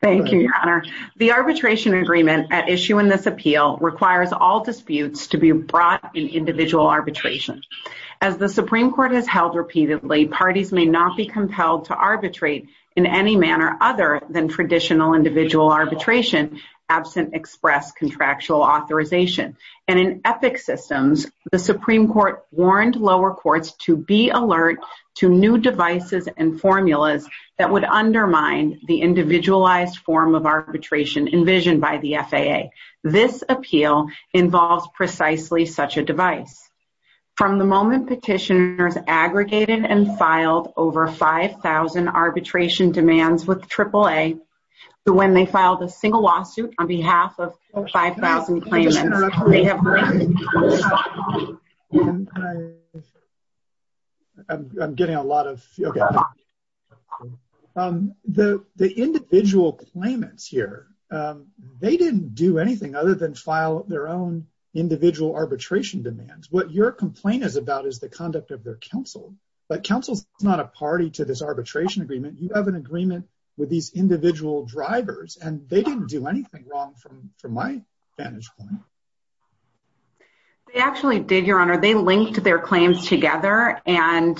Thank you, Your Honor. The arbitration agreement at issue in this appeal requires all disputes to be brought in individual arbitration. As the Supreme Court has held repeatedly, parties may not be compelled to arbitrate in any manner other than traditional individual arbitration, absent express contractual authorization. And in EPIC systems, the Supreme Court warned lower courts to be alert to new devices and formulas that would undermine the individualized form of arbitration envisioned by the FAA. This appeal involves precisely such a device. From the moment petitioners aggregated and filed over 5,000 arbitration demands with AAA, when they filed a single lawsuit on behalf of 5,000 claimants, they have I'm getting a lot of, okay. The individual claimants here, they didn't do anything other than file their own individual arbitration demands. What your complaint is about is the conduct of their counsel, but counsel's not a party to this arbitration agreement. You have an agreement with these individual drivers, and they didn't do anything wrong from my vantage point. They actually did, Your Honor. They linked their claims together, and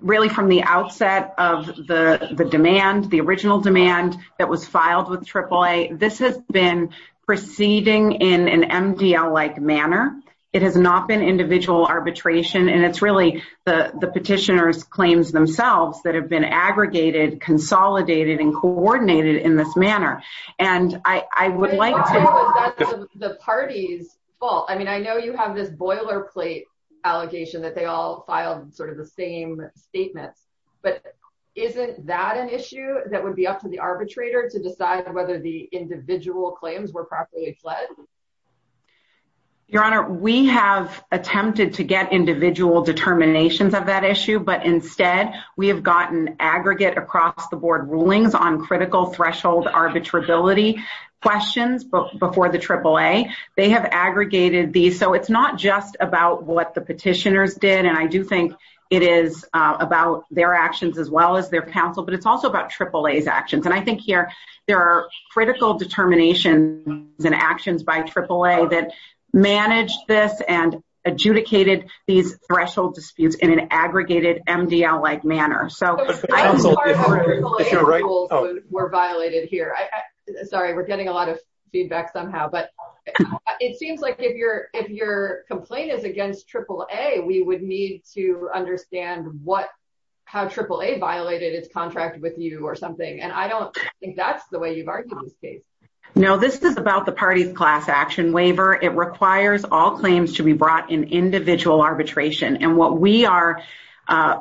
really from the outset of the demand, the original demand that was filed with AAA, this has been proceeding in an MDL-like manner. It has not been individual arbitration, and it's really the petitioners' claims themselves that have been aggregated, consolidated, and coordinated in this manner. And I would like to- That's the party's fault. I mean, I know you have this boilerplate allegation that they all filed sort of the same statements, but isn't that an issue that would be up to the arbitrator to decide whether the individual claims were properly fled? Your Honor, we have attempted to get individual determinations of that issue, but instead, we have gotten aggregate across-the-board rulings on critical threshold arbitrability questions before the AAA. They have aggregated these, so it's not just about what the petitioners did, and I do think it is about their actions as well as their counsel, but it's also about AAA's actions. And I think here, there are critical determinations and actions by AAA that managed this and adjudicated these threshold disputes in an aggregated MDL-like manner. I'm sorry if AAA rules were violated here. Sorry, we're getting a lot of feedback somehow, but it seems like if your complaint is against AAA, we would need to understand how AAA violated its contract with you or something, and I don't think that's the way you've argued this case. No, this is about the party's class action waiver. It requires all claims to be brought in individual arbitration, and what we are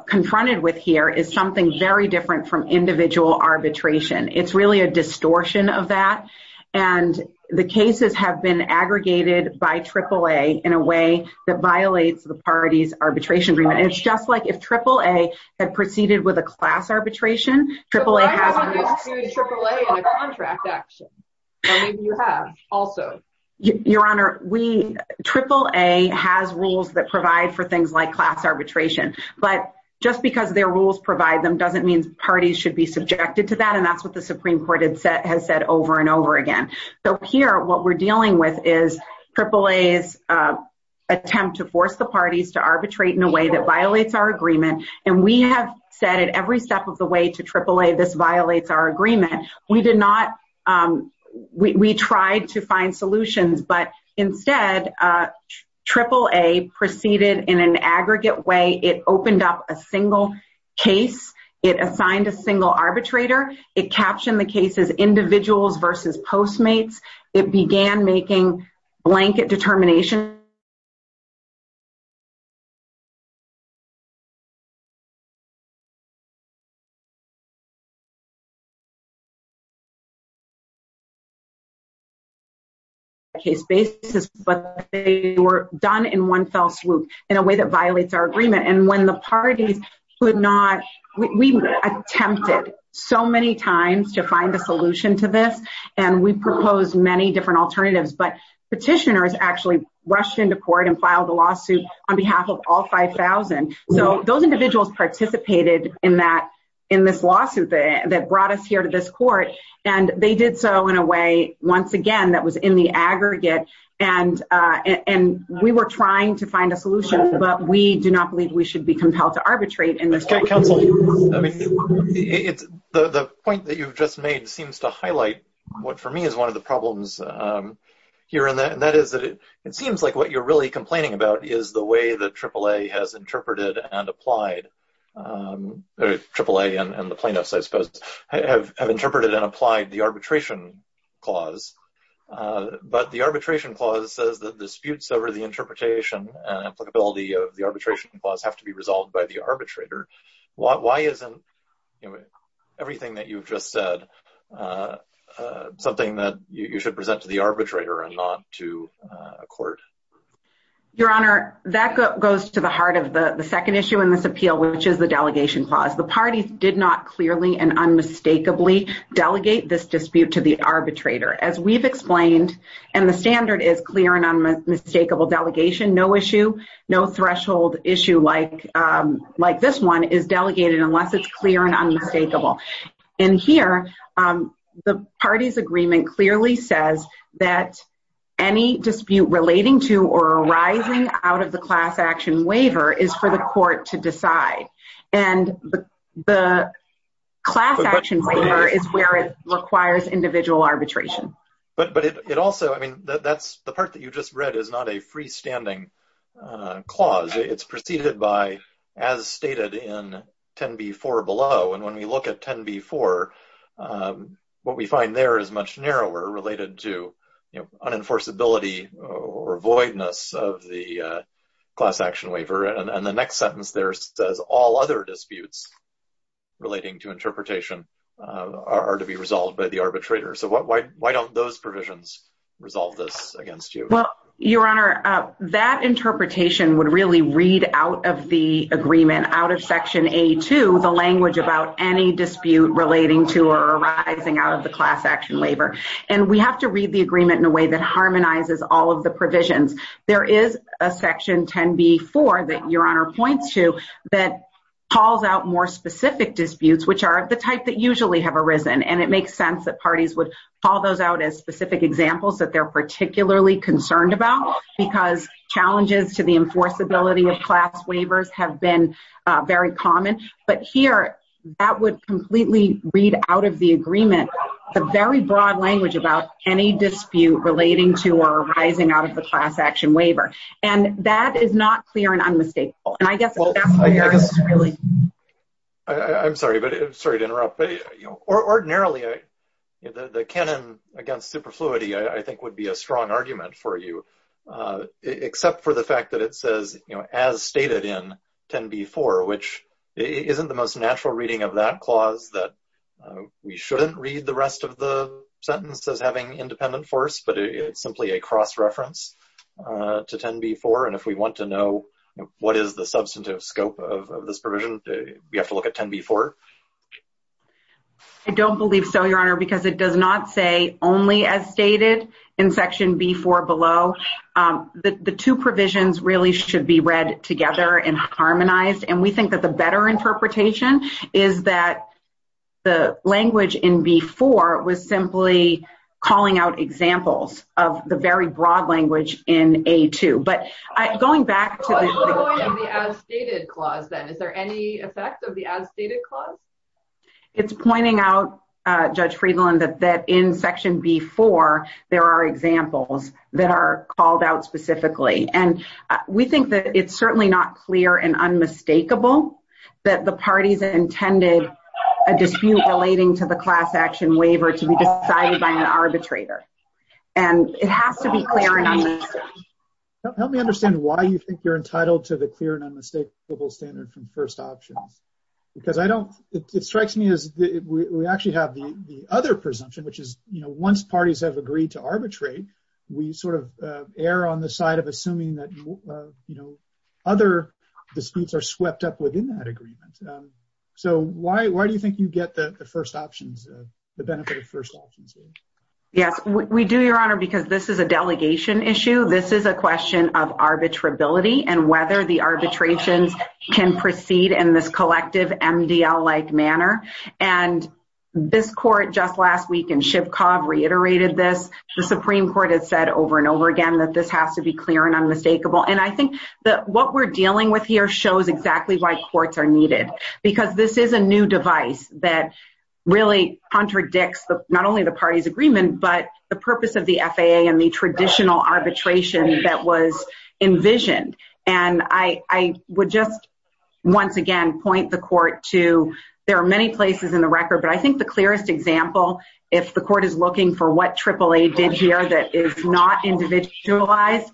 confronted with here is something very different from individual arbitration. It's really a distortion of that, and the cases have been aggregated by AAA in a way that violates the party's arbitration agreement, and it's just like if AAA had proceeded with a class arbitration, AAA hasn't. But why haven't you sued AAA on a contract action? Why don't you have, also? Your Honor, AAA has rules that provide for things like class arbitration, but just because their rules provide them doesn't mean parties should be subjected to that, and that's what the Supreme Court has said over and over again. So here, what we're dealing with is AAA's attempt to force the parties to arbitrate in a way that violates our agreement, and we have said at every step of the Instead, AAA proceeded in an aggregate way. It opened up a single case. It assigned a single arbitrator. It captioned the case as individuals versus postmates. It began making blanket determinations. case basis, but they were done in one fell swoop in a way that violates our agreement, and when the parties could not—we attempted so many times to find a solution to this, and we proposed many different alternatives, but petitioners actually rushed into court and filed a lawsuit on behalf of all 5,000. So those individuals participated in this lawsuit that brought us here to this court, and they did so in a way, once again, that was in the aggregate, and we were trying to find a solution, but we do not believe we should be compelled to arbitrate in this way. Counsel, the point that you've just made seems to highlight what, for me, is one of the problems here, and that is that it seems like what you're really complaining about is the way that AAA and the plaintiffs, I suppose, have interpreted and applied the arbitration clause, but the arbitration clause says that disputes over the interpretation and applicability of the arbitration clause have to be resolved by the arbitrator. Why isn't everything that you've just said something that you should present to the arbitrator and not to Your Honor, that goes to the heart of the second issue in this appeal, which is the delegation clause. The parties did not clearly and unmistakably delegate this dispute to the arbitrator. As we've explained, and the standard is clear and unmistakable delegation, no issue, no threshold issue like this one is delegated unless it's clear and unmistakable. In here, the parties agreement clearly says that any dispute relating to or arising out of the class action waiver is for the court to decide, and the class action waiver is where it requires individual arbitration. But it also, I mean, that's the part that you just read is not a 10B4. What we find there is much narrower related to unenforceability or voidness of the class action waiver, and the next sentence there says all other disputes relating to interpretation are to be resolved by the arbitrator. So why don't those provisions resolve this against you? Well, Your Honor, that interpretation would really read out of the relating to or arising out of the class action waiver, and we have to read the agreement in a way that harmonizes all of the provisions. There is a section 10B4 that Your Honor points to that calls out more specific disputes, which are the type that usually have arisen, and it makes sense that parties would call those out as specific examples that they're particularly concerned about because challenges to the enforceability of class waivers have been very common. But here, that would completely read out of the agreement the very broad language about any dispute relating to or arising out of the class action waiver, and that is not clear and unmistakable, and I guess that's where it's really... I'm sorry to interrupt, but ordinarily, the canon against superfluity, I think, would be a strong argument for you, except for the fact that it says, you know, as stated in 10B4, which isn't the most natural reading of that clause that we shouldn't read the rest of the sentence as having independent force, but it's simply a cross-reference to 10B4, and if we want to know what is the substantive scope of this provision, we have to look at 10B4. I don't believe so, Your Honor, because it does not say only as stated in section B4 below. The two provisions really should be read together and harmonized, and we think that the better interpretation is that the language in B4 was simply calling out examples of the very broad language in A2, but going back to... What's the point of the as stated clause, then? Is there any effect of the as stated clause? It's pointing out, Judge Friedland, that in section B4, there are examples that are called out specifically, and we think that it's certainly not clear and unmistakable that the parties intended a dispute relating to the class action waiver to be decided by an arbitrator, and it has to be clear and unmistakable. Help me understand why you think you're entitled to the clear and unmistakable standard from first options, because it strikes me as we actually have the other presumption, which is once parties have agreed to arbitrate, we err on the side of assuming that other disputes are swept up within that agreement. Why do you think you get the first options, the benefit of first options? Yes, we do, Your Honor, because this is a The Supreme Court has said over and over again that this has to be clear and unmistakable, and I think that what we're dealing with here shows exactly why courts are needed, because this is a new device that really contradicts not only the party's agreement, but the purpose of the FAA and the traditional arbitration that was envisioned, and I would just once again point the court to there are many places in the record, but I think the clearest example, if the court is looking for what AAA did here that is not individualized,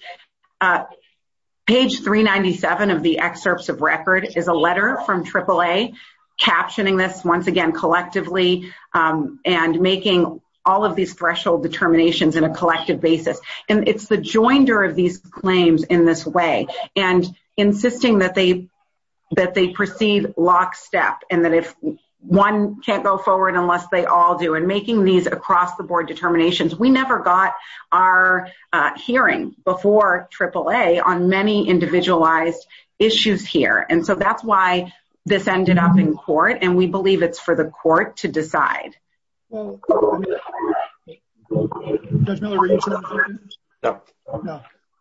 page 397 of the excerpts of record is a letter from AAA captioning this once again collectively and making all of these threshold determinations in a collective basis, and it's the joinder of these claims in this way, and insisting that they proceed lockstep, and that if one can't go forward unless they all do, and making these across-the-board determinations. We never got our hearing before AAA on many individualized issues here, and so that's why this ended up in court, and we believe it's for the court to decide.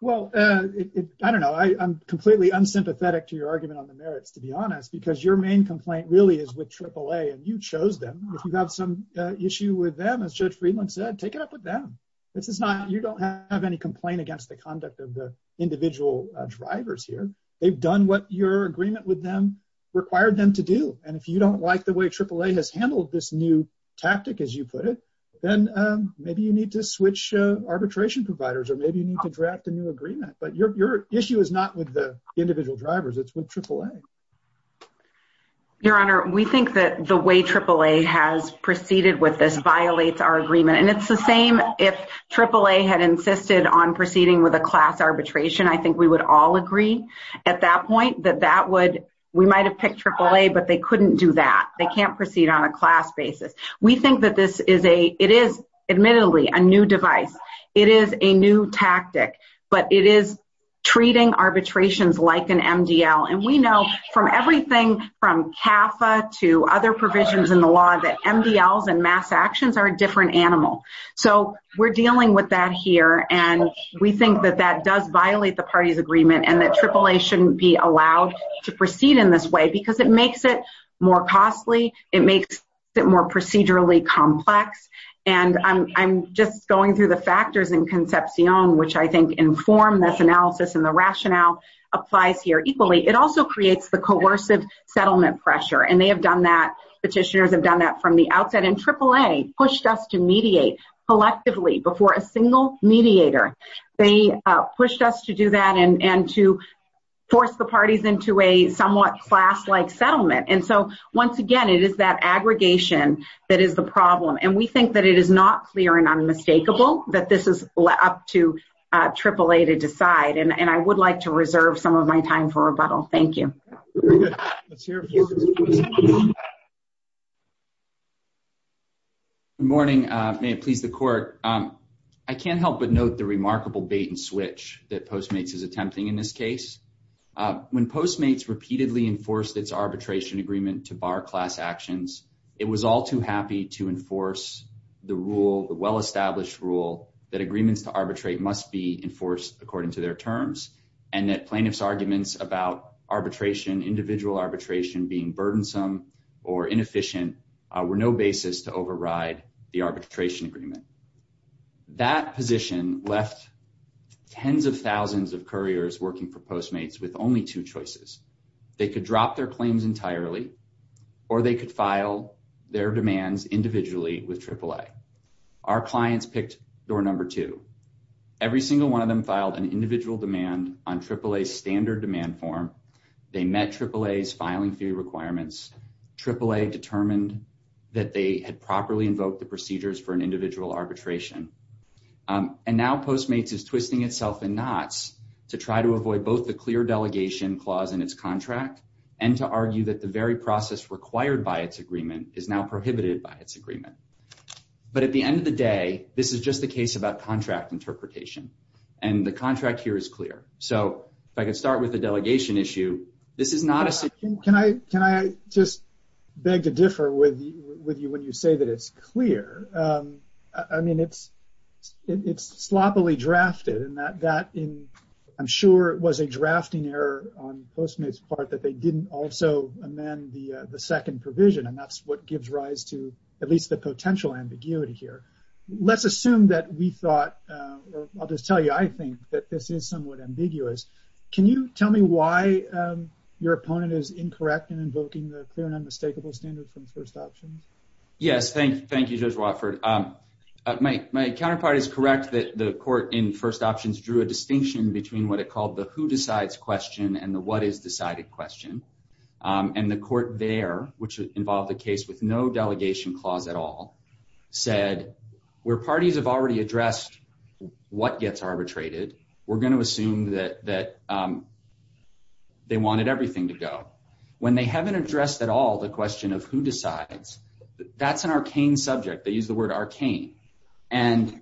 Well, I don't know. I'm completely unsympathetic to your argument on the merits, to be honest, because your main complaint really is with AAA, and you chose them. If you have some issue with them, as Judge Friedland said, take it up with them. This is not, you don't have any complaint against the conduct of the individual drivers here. They've done what your agreement with them required them to do, and if you don't like the way AAA has handled this new tactic, as you put it, then maybe you need to switch arbitration providers, or maybe you need to draft a new agreement, but your issue is not with the individual drivers. It's with AAA. Your Honor, we think that the way AAA has proceeded with this violates our agreement, and it's the same if AAA had insisted on proceeding with a class arbitration. I think we would all at that point that that would, we might have picked AAA, but they couldn't do that. They can't proceed on a class basis. We think that this is a, it is admittedly a new device. It is a new tactic, but it is treating arbitrations like an MDL, and we know from everything from CAFA to other provisions in the law that MDLs and mass actions are a different animal, so we're dealing with that here, and we think that that does violate the party's agreement, and that AAA shouldn't be allowed to proceed in this way because it makes it more costly. It makes it more procedurally complex, and I'm just going through the factors in Concepcion, which I think inform this analysis, and the rationale applies here equally. It also creates the coercive settlement pressure, and they have done that. Petitioners have done that from the outset, and AAA pushed us to mediate collectively before a single mediator. They pushed us to do that and to force the parties into a somewhat class-like settlement, and so once again, it is that aggregation that is the problem, and we think that it is not clear and unmistakable that this is up to AAA to decide, and I would like to reserve some of my time for rebuttal. Thank you. Very good. Let's hear from you. Good morning. May it please the Court. I can't help but note the remarkable bait-and-switch that Postmates is attempting in this case. When Postmates repeatedly enforced its arbitration agreement to bar class actions, it was all too happy to enforce the rule, the well-established rule, that agreements to arbitrate must be enforced according to their terms, and that individual arbitration being burdensome or inefficient were no basis to override the arbitration agreement. That position left tens of thousands of couriers working for Postmates with only two choices. They could drop their claims entirely, or they could file their demands individually with AAA. Our clients picked door number two. Every single one of them filed an AAA's filing fee requirements. AAA determined that they had properly invoked the procedures for an individual arbitration, and now Postmates is twisting itself in knots to try to avoid both the clear delegation clause in its contract and to argue that the very process required by its agreement is now prohibited by its agreement. But at the end of the day, this is just a case about contract interpretation, and the contract here is clear. So if I could start with the Can I just beg to differ with you when you say that it's clear? I mean, it's sloppily drafted, and I'm sure it was a drafting error on Postmates' part that they didn't also amend the second provision, and that's what gives rise to at least the potential ambiguity here. Let's assume that we thought, or I'll just tell you, I think that this is somewhat ambiguous. Can you tell me why your opponent is incorrect in invoking the clear and unmistakable standard from First Options? Yes, thank you, Judge Watford. My counterpart is correct that the court in First Options drew a distinction between what it called the who decides question and the what is decided question, and the court there, which involved a case with no delegation clause at all, said where parties have already addressed what gets arbitrated, we're going to assume that they wanted everything to go. When they haven't addressed at all the question of who decides, that's an arcane subject. They use the word arcane, and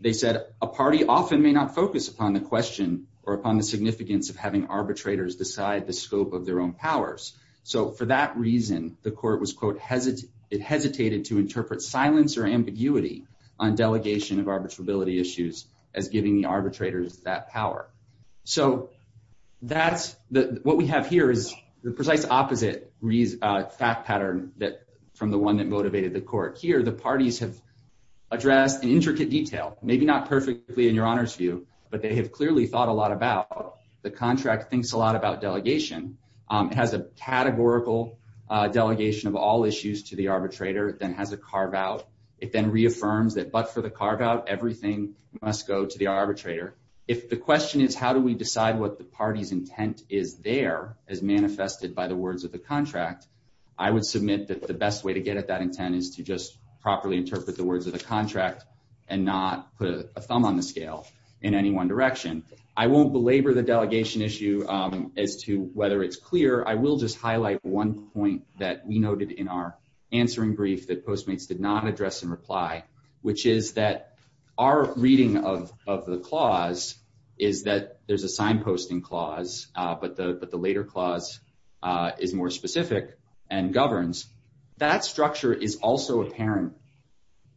they said a party often may not focus upon the question or upon the significance of having arbitrators decide the scope of their own powers. So for that reason, the court was, quote, it hesitated to interpret silence or ambiguity on delegation of arbitrability issues as giving the arbitrators that power. So that's what we have here is the precise opposite fact pattern from the one that motivated the court. Here, the parties have addressed in intricate detail, maybe not perfectly in your honor's view, but they have clearly thought a lot about the contract, thinks a lot about it then reaffirms that but for the carve out, everything must go to the arbitrator. If the question is how do we decide what the party's intent is there as manifested by the words of the contract, I would submit that the best way to get at that intent is to just properly interpret the words of the contract and not put a thumb on the scale in any one direction. I won't belabor the delegation issue as to whether it's clear. I will just highlight one point that we noted in our did not address in reply, which is that our reading of the clause is that there's a sign posting clause, but the later clause is more specific and governs. That structure is also apparent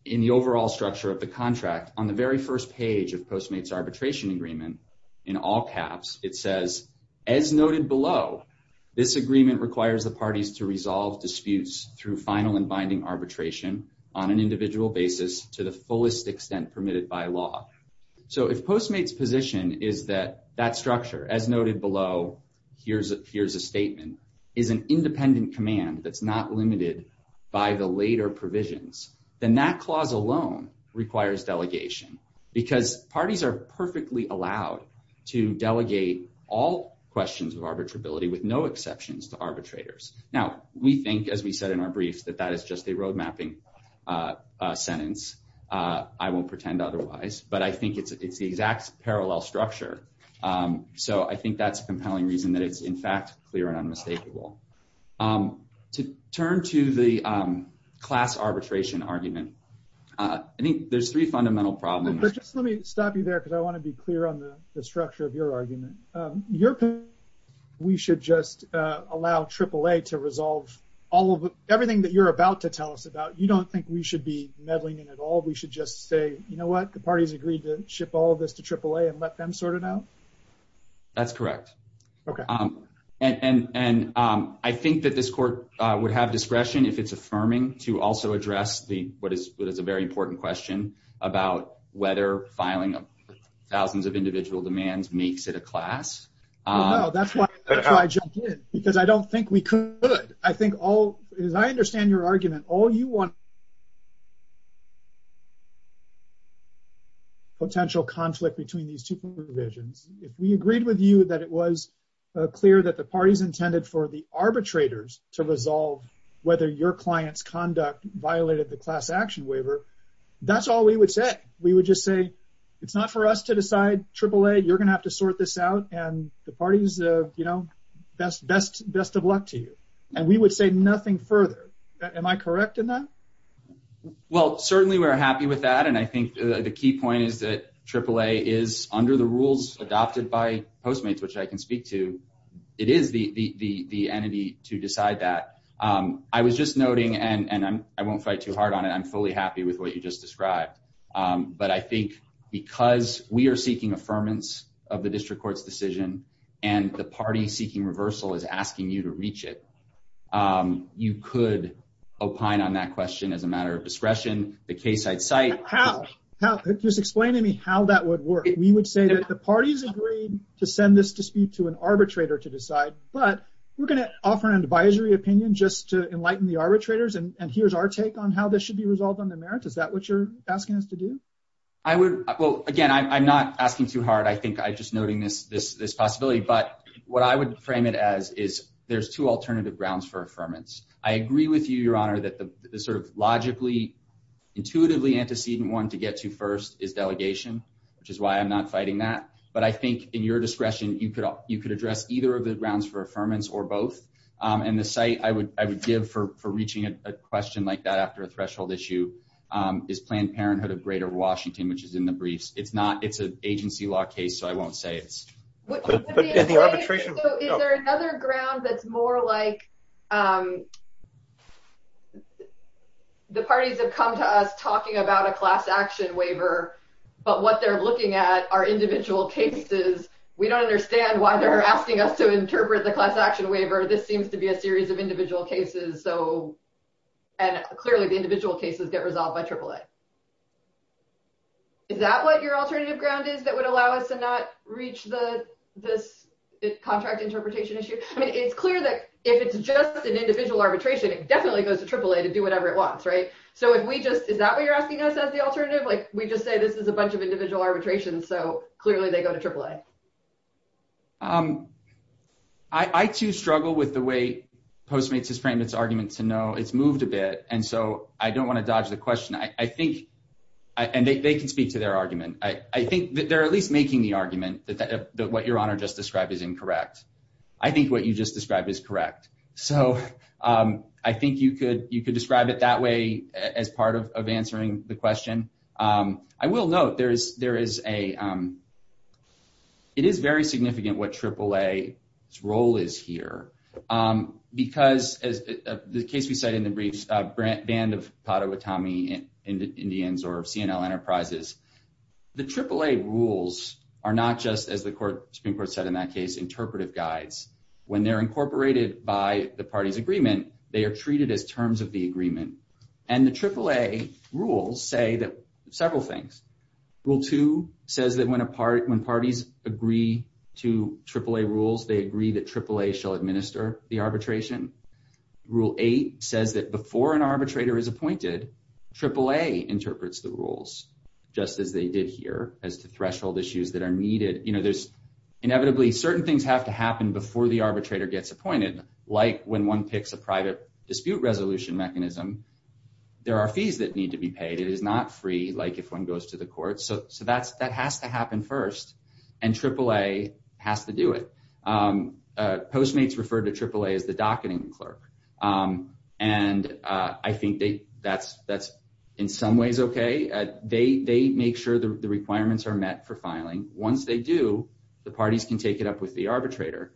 in the overall structure of the contract. On the very first page of Postmates Arbitration Agreement, in all caps, it says, as noted below, this agreement requires the parties to resolve arbitration on an individual basis to the fullest extent permitted by law. If Postmates position is that that structure, as noted below, here's a statement, is an independent command that's not limited by the later provisions, then that clause alone requires delegation because parties are perfectly allowed to delegate all questions of arbitrability with no exceptions to arbitrators. Now, we think, as we said in our briefs, that that is just a road mapping sentence. I won't pretend otherwise, but I think it's the exact parallel structure. So I think that's a compelling reason that it's, in fact, clear and unmistakable. To turn to the class arbitration argument, I think there's three fundamental problems. But just let me stop you there because I want to be all of everything that you're about to tell us about. You don't think we should be meddling in at all. We should just say, you know what, the parties agreed to ship all of this to AAA and let them sort it out? That's correct. Okay. And I think that this court would have discretion, if it's affirming, to also address what is a very important question about whether filing thousands of individual demands makes it a class. No, that's why I jumped in, because I don't think we could. I think all, as I understand your argument, all you want is potential conflict between these two provisions. If we agreed with you that it was clear that the parties intended for the arbitrators to resolve whether your client's conduct violated the class action waiver, that's all we would say. We would just say, it's not for us to decide, AAA, you're going to have to sort this out, and the parties, you know, best of luck to you. And we would say nothing further. Am I correct in that? Well, certainly we're happy with that. And I think the key point is that AAA is under the rules adopted by Postmates, which I can speak to, it is the entity to decide that. I was just noting, and I won't fight too hard on it, I'm fully happy with what you just described. But I think because we are seeking affirmance of the district court's decision, and the party seeking reversal is asking you to reach it, you could opine on that question as a matter of discretion, the case I'd cite... How? Just explain to me how that would work. We would say that the parties agreed to send this dispute to an arbitrator to decide, but we're going to offer an advisory opinion just to enlighten the arbitrators, and here's our take on how this be resolved on the merits. Is that what you're asking us to do? I would... Well, again, I'm not asking too hard. I think I'm just noting this possibility. But what I would frame it as is there's two alternative grounds for affirmance. I agree with you, Your Honor, that the sort of logically, intuitively antecedent one to get to first is delegation, which is why I'm not fighting that. But I think in your discretion, you could address either of the grounds for affirmance or both. And the cite I would give for reaching a question like that after a threshold issue is Planned Parenthood of Greater Washington, which is in the briefs. It's not... It's an agency law case, so I won't say it's... Is there another ground that's more like the parties have come to us talking about a class action waiver, but what they're looking at are individual cases. We don't understand why they're asking us to this seems to be a series of individual cases. And clearly, the individual cases get resolved by AAA. Is that what your alternative ground is that would allow us to not reach this contract interpretation issue? I mean, it's clear that if it's just an individual arbitration, it definitely goes to AAA to do whatever it wants, right? So if we just... Is that what you're asking us as the alternative? We just say this is a bunch of individual arbitrations, so clearly they go to Postmates has framed its argument to know it's moved a bit, and so I don't want to dodge the question. I think... And they can speak to their argument. I think that they're at least making the argument that what your honor just described is incorrect. I think what you just described is correct. So I think you could describe it that way as part of answering the question. I will note that it is very significant what AAA's role is here because, as the case we said in the briefs, banned of Padawatami Indians or C&L Enterprises. The AAA rules are not just, as the Supreme Court said in that case, interpretive guides. When they're incorporated by the party's agreement, they are treated as terms of the agreement. And the AAA rules say several things. Rule 2 says that when parties agree to AAA rules, they agree that AAA shall administer the arbitration. Rule 8 says that before an arbitrator is appointed, AAA interprets the rules just as they did here as to threshold issues that are needed. There's inevitably... Certain things have to happen before the arbitrator gets appointed. Like when one picks a private dispute resolution mechanism, there are fees that need to be paid. It is not free like if one goes to the court. So that has to happen first, and AAA has to do it. Postmates refer to AAA as the docketing clerk. And I think that's in some ways okay. They make sure the requirements are met for filing. Once they do, the parties can take it up with the arbitrator.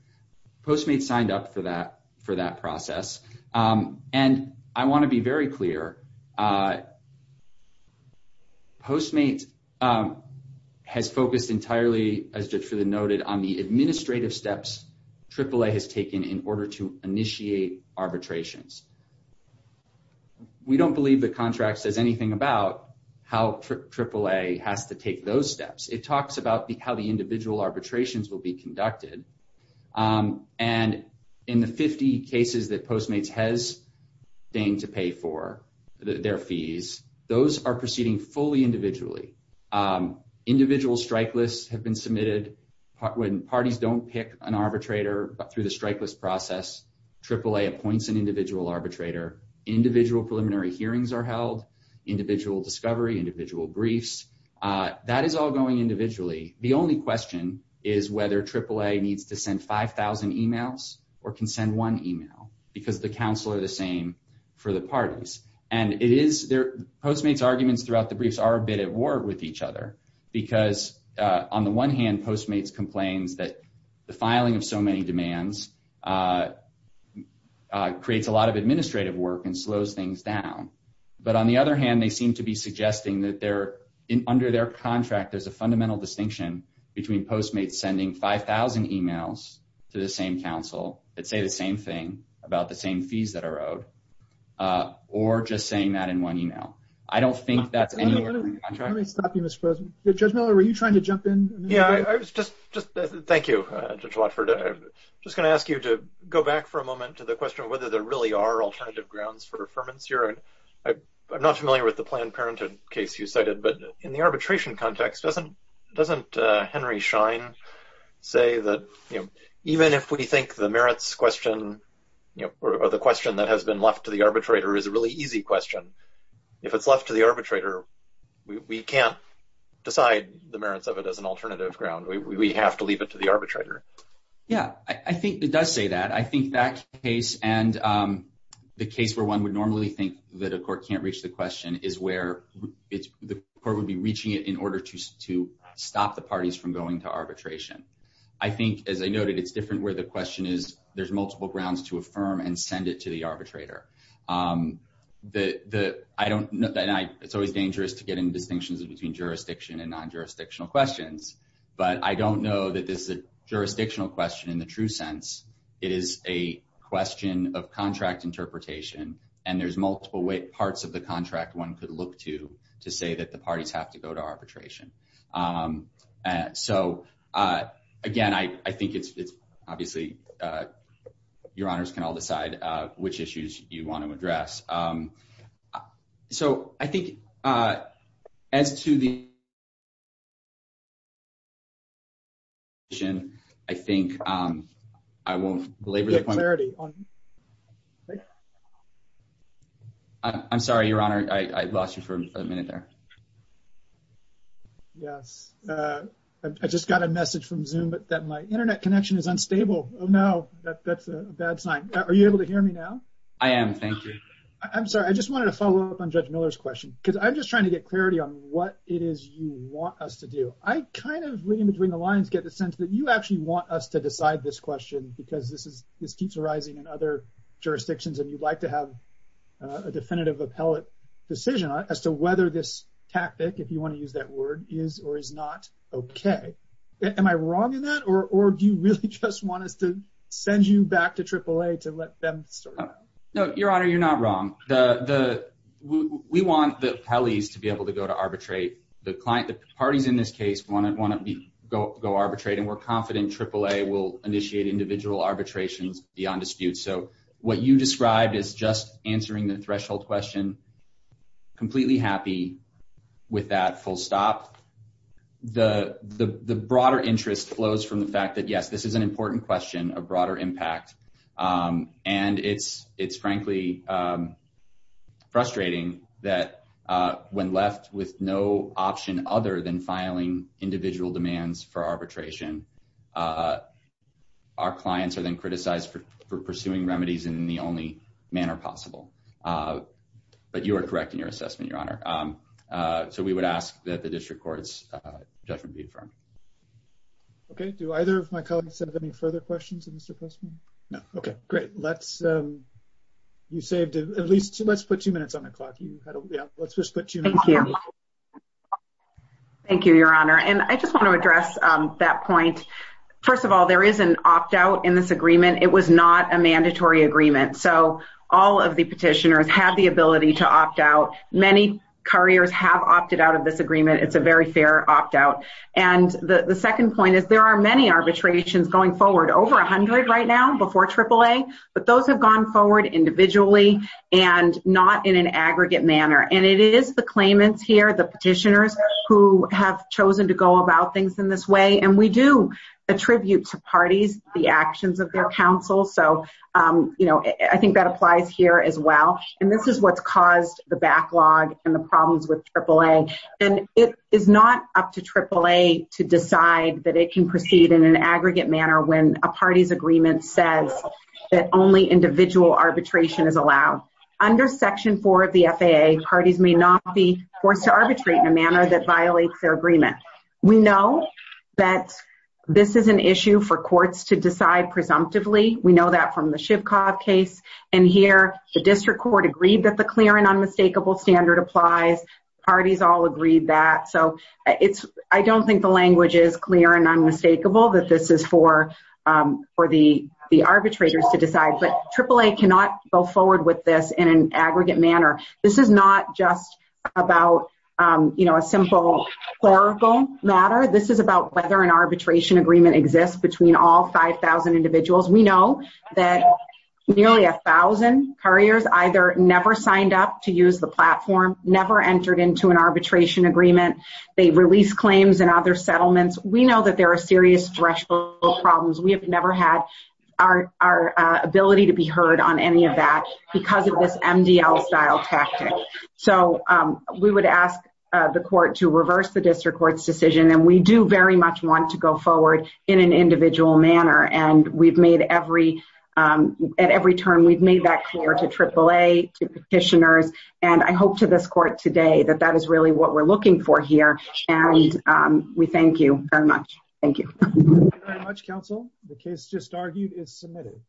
Postmates signed up for that process. And I want to be very clear. Postmates has focused entirely, as Judge Friedland noted, on the administrative steps AAA has taken in order to initiate arbitrations. We don't believe the contract says anything about how AAA has to take those steps. It talks about how the individual arbitrations will be conducted. And in the 50 cases that Postmates has been to pay for their fees, those are proceeding fully individually. Individual strike lists have been submitted. When parties don't pick an arbitrator through the strike list process, AAA appoints an individual arbitrator. Individual preliminary hearings are held. Individual discovery. Individual briefs. That is all going individually. The only question is whether AAA needs to send 5,000 emails or can send one email because the counsel are the same for the parties. Postmates' arguments throughout the briefs are a bit at war with each other because on the one hand, Postmates complains that the filing of so many demands creates a lot of administrative work and slows things down. But on the other hand, they seem to be suggesting that under their contract, there's a fundamental distinction between Postmates sending 5,000 emails to the same counsel that say the same thing about the same fees that are owed or just saying that in one email. I don't think that's anywhere in the contract. Let me stop you, Mr. President. Judge Miller, were you trying to jump in? Yeah. Thank you, Judge Watford. I'm just going to ask you to go back for a moment to the question of whether there really are alternative grounds for affirmance here. I'm not familiar with the Planned Parenthood case you cited, but in the arbitration context, doesn't Henry Schein say that even if we think the merits question or the question that has been left to the arbitrator is a really easy question, if it's left to the arbitrator, we can't decide the merits of it as an alternative ground. We have to leave it to the arbitrator. Yeah, I think it does say that. I think that case and the case where one would normally think that a court can't reach the question is where the court would be reaching it in order to stop the parties from going to arbitration. I think, as I noted, it's different where the question is there's multiple grounds to affirm and send it to the arbitrator. It's always dangerous to get into but I don't know that this is a jurisdictional question in the true sense. It is a question of contract interpretation and there's multiple parts of the contract one could look to to say that the parties have to go to arbitration. So again, I think it's obviously your honors can all decide which issues you want to address. So I think as to the arbitration, I think I won't belabor the point. I'm sorry, your honor, I lost you for a minute there. Yes, I just got a message from Zoom that my internet connection is unstable. Oh no, that's a bad sign. Are you able to hear me now? I am, thank you. I'm sorry, I just wanted to follow up on Judge Miller's question because I'm just trying to get clarity on what it is you want us to do. I kind of, reading between the lines, get the sense that you actually want us to decide this question because this keeps arising in other jurisdictions and you'd like to have a definitive appellate decision as to whether this tactic, if you want to use that word, is or is not okay. Am I wrong in that or do you really just want us to send you back to AAA to let them sort it out? No, your honor, you're not wrong. We want the appellees to be able to go to this case, want to go arbitrate, and we're confident AAA will initiate individual arbitrations beyond dispute. So what you described is just answering the threshold question, completely happy with that full stop. The broader interest flows from the fact that yes, this is an important question, a broader impact, and it's frankly frustrating that when left with no option other than filing individual demands for arbitration, our clients are then criticized for pursuing remedies in the only manner possible. But you are correct in your assessment, your honor. So we would ask that the district court's judgment be affirmed. Okay, do either of my colleagues have any further questions of Mr. Postman? No. Okay, great. Let's put two minutes on the clock. Thank you, your honor. And I just want to address that point. First of all, there is an opt-out in this agreement. It was not a mandatory agreement. So all of the petitioners have the ability to opt out. Many couriers have opted out of this agreement. It's a very fair opt-out. And the second point is there are many arbitrations going forward, over 100 right now before AAA, but those have gone forward individually and not in an aggregate manner. And it is the claimants here, the petitioners, who have chosen to go about things in this way. And we do attribute to parties the actions of their counsel. So, you know, I think that applies here as well. And this is what's caused the backlog and the problems with AAA. And it is not up to AAA to decide that it can proceed in an aggregate manner when a party's agreement says that only individual arbitration is allowed. Under Section 4 of the FAA, parties may not be forced to arbitrate in a manner that violates their agreement. We know that this is an issue for courts to decide presumptively. We know that from the Shivkov case. And here, the district court agreed that the clear and unmistakable standard applies. Parties all agreed that. So I don't think the language is clear and unmistakable that this is for the arbitrators to decide. But AAA cannot go forward with this in an aggregate manner. This is not just about, you know, a simple clerical matter. This is about whether an arbitration agreement exists between all 5,000 individuals. We know that nearly a thousand couriers either never signed up to use the platform, never entered into an arbitration agreement. They released claims in other settlements. We know that there are serious threshold problems. We have never had our ability to be heard on any of that because of this MDL style tactic. So we would ask the court to reverse the district court's decision. And we do very much want to go forward in an individual manner. And at every turn, we've made that clear to AAA, to petitioners, and I hope to this court today that that is really what we're looking for here. And we thank you very much. Thank you. Thank you very much, counsel. The case just argued is submitted.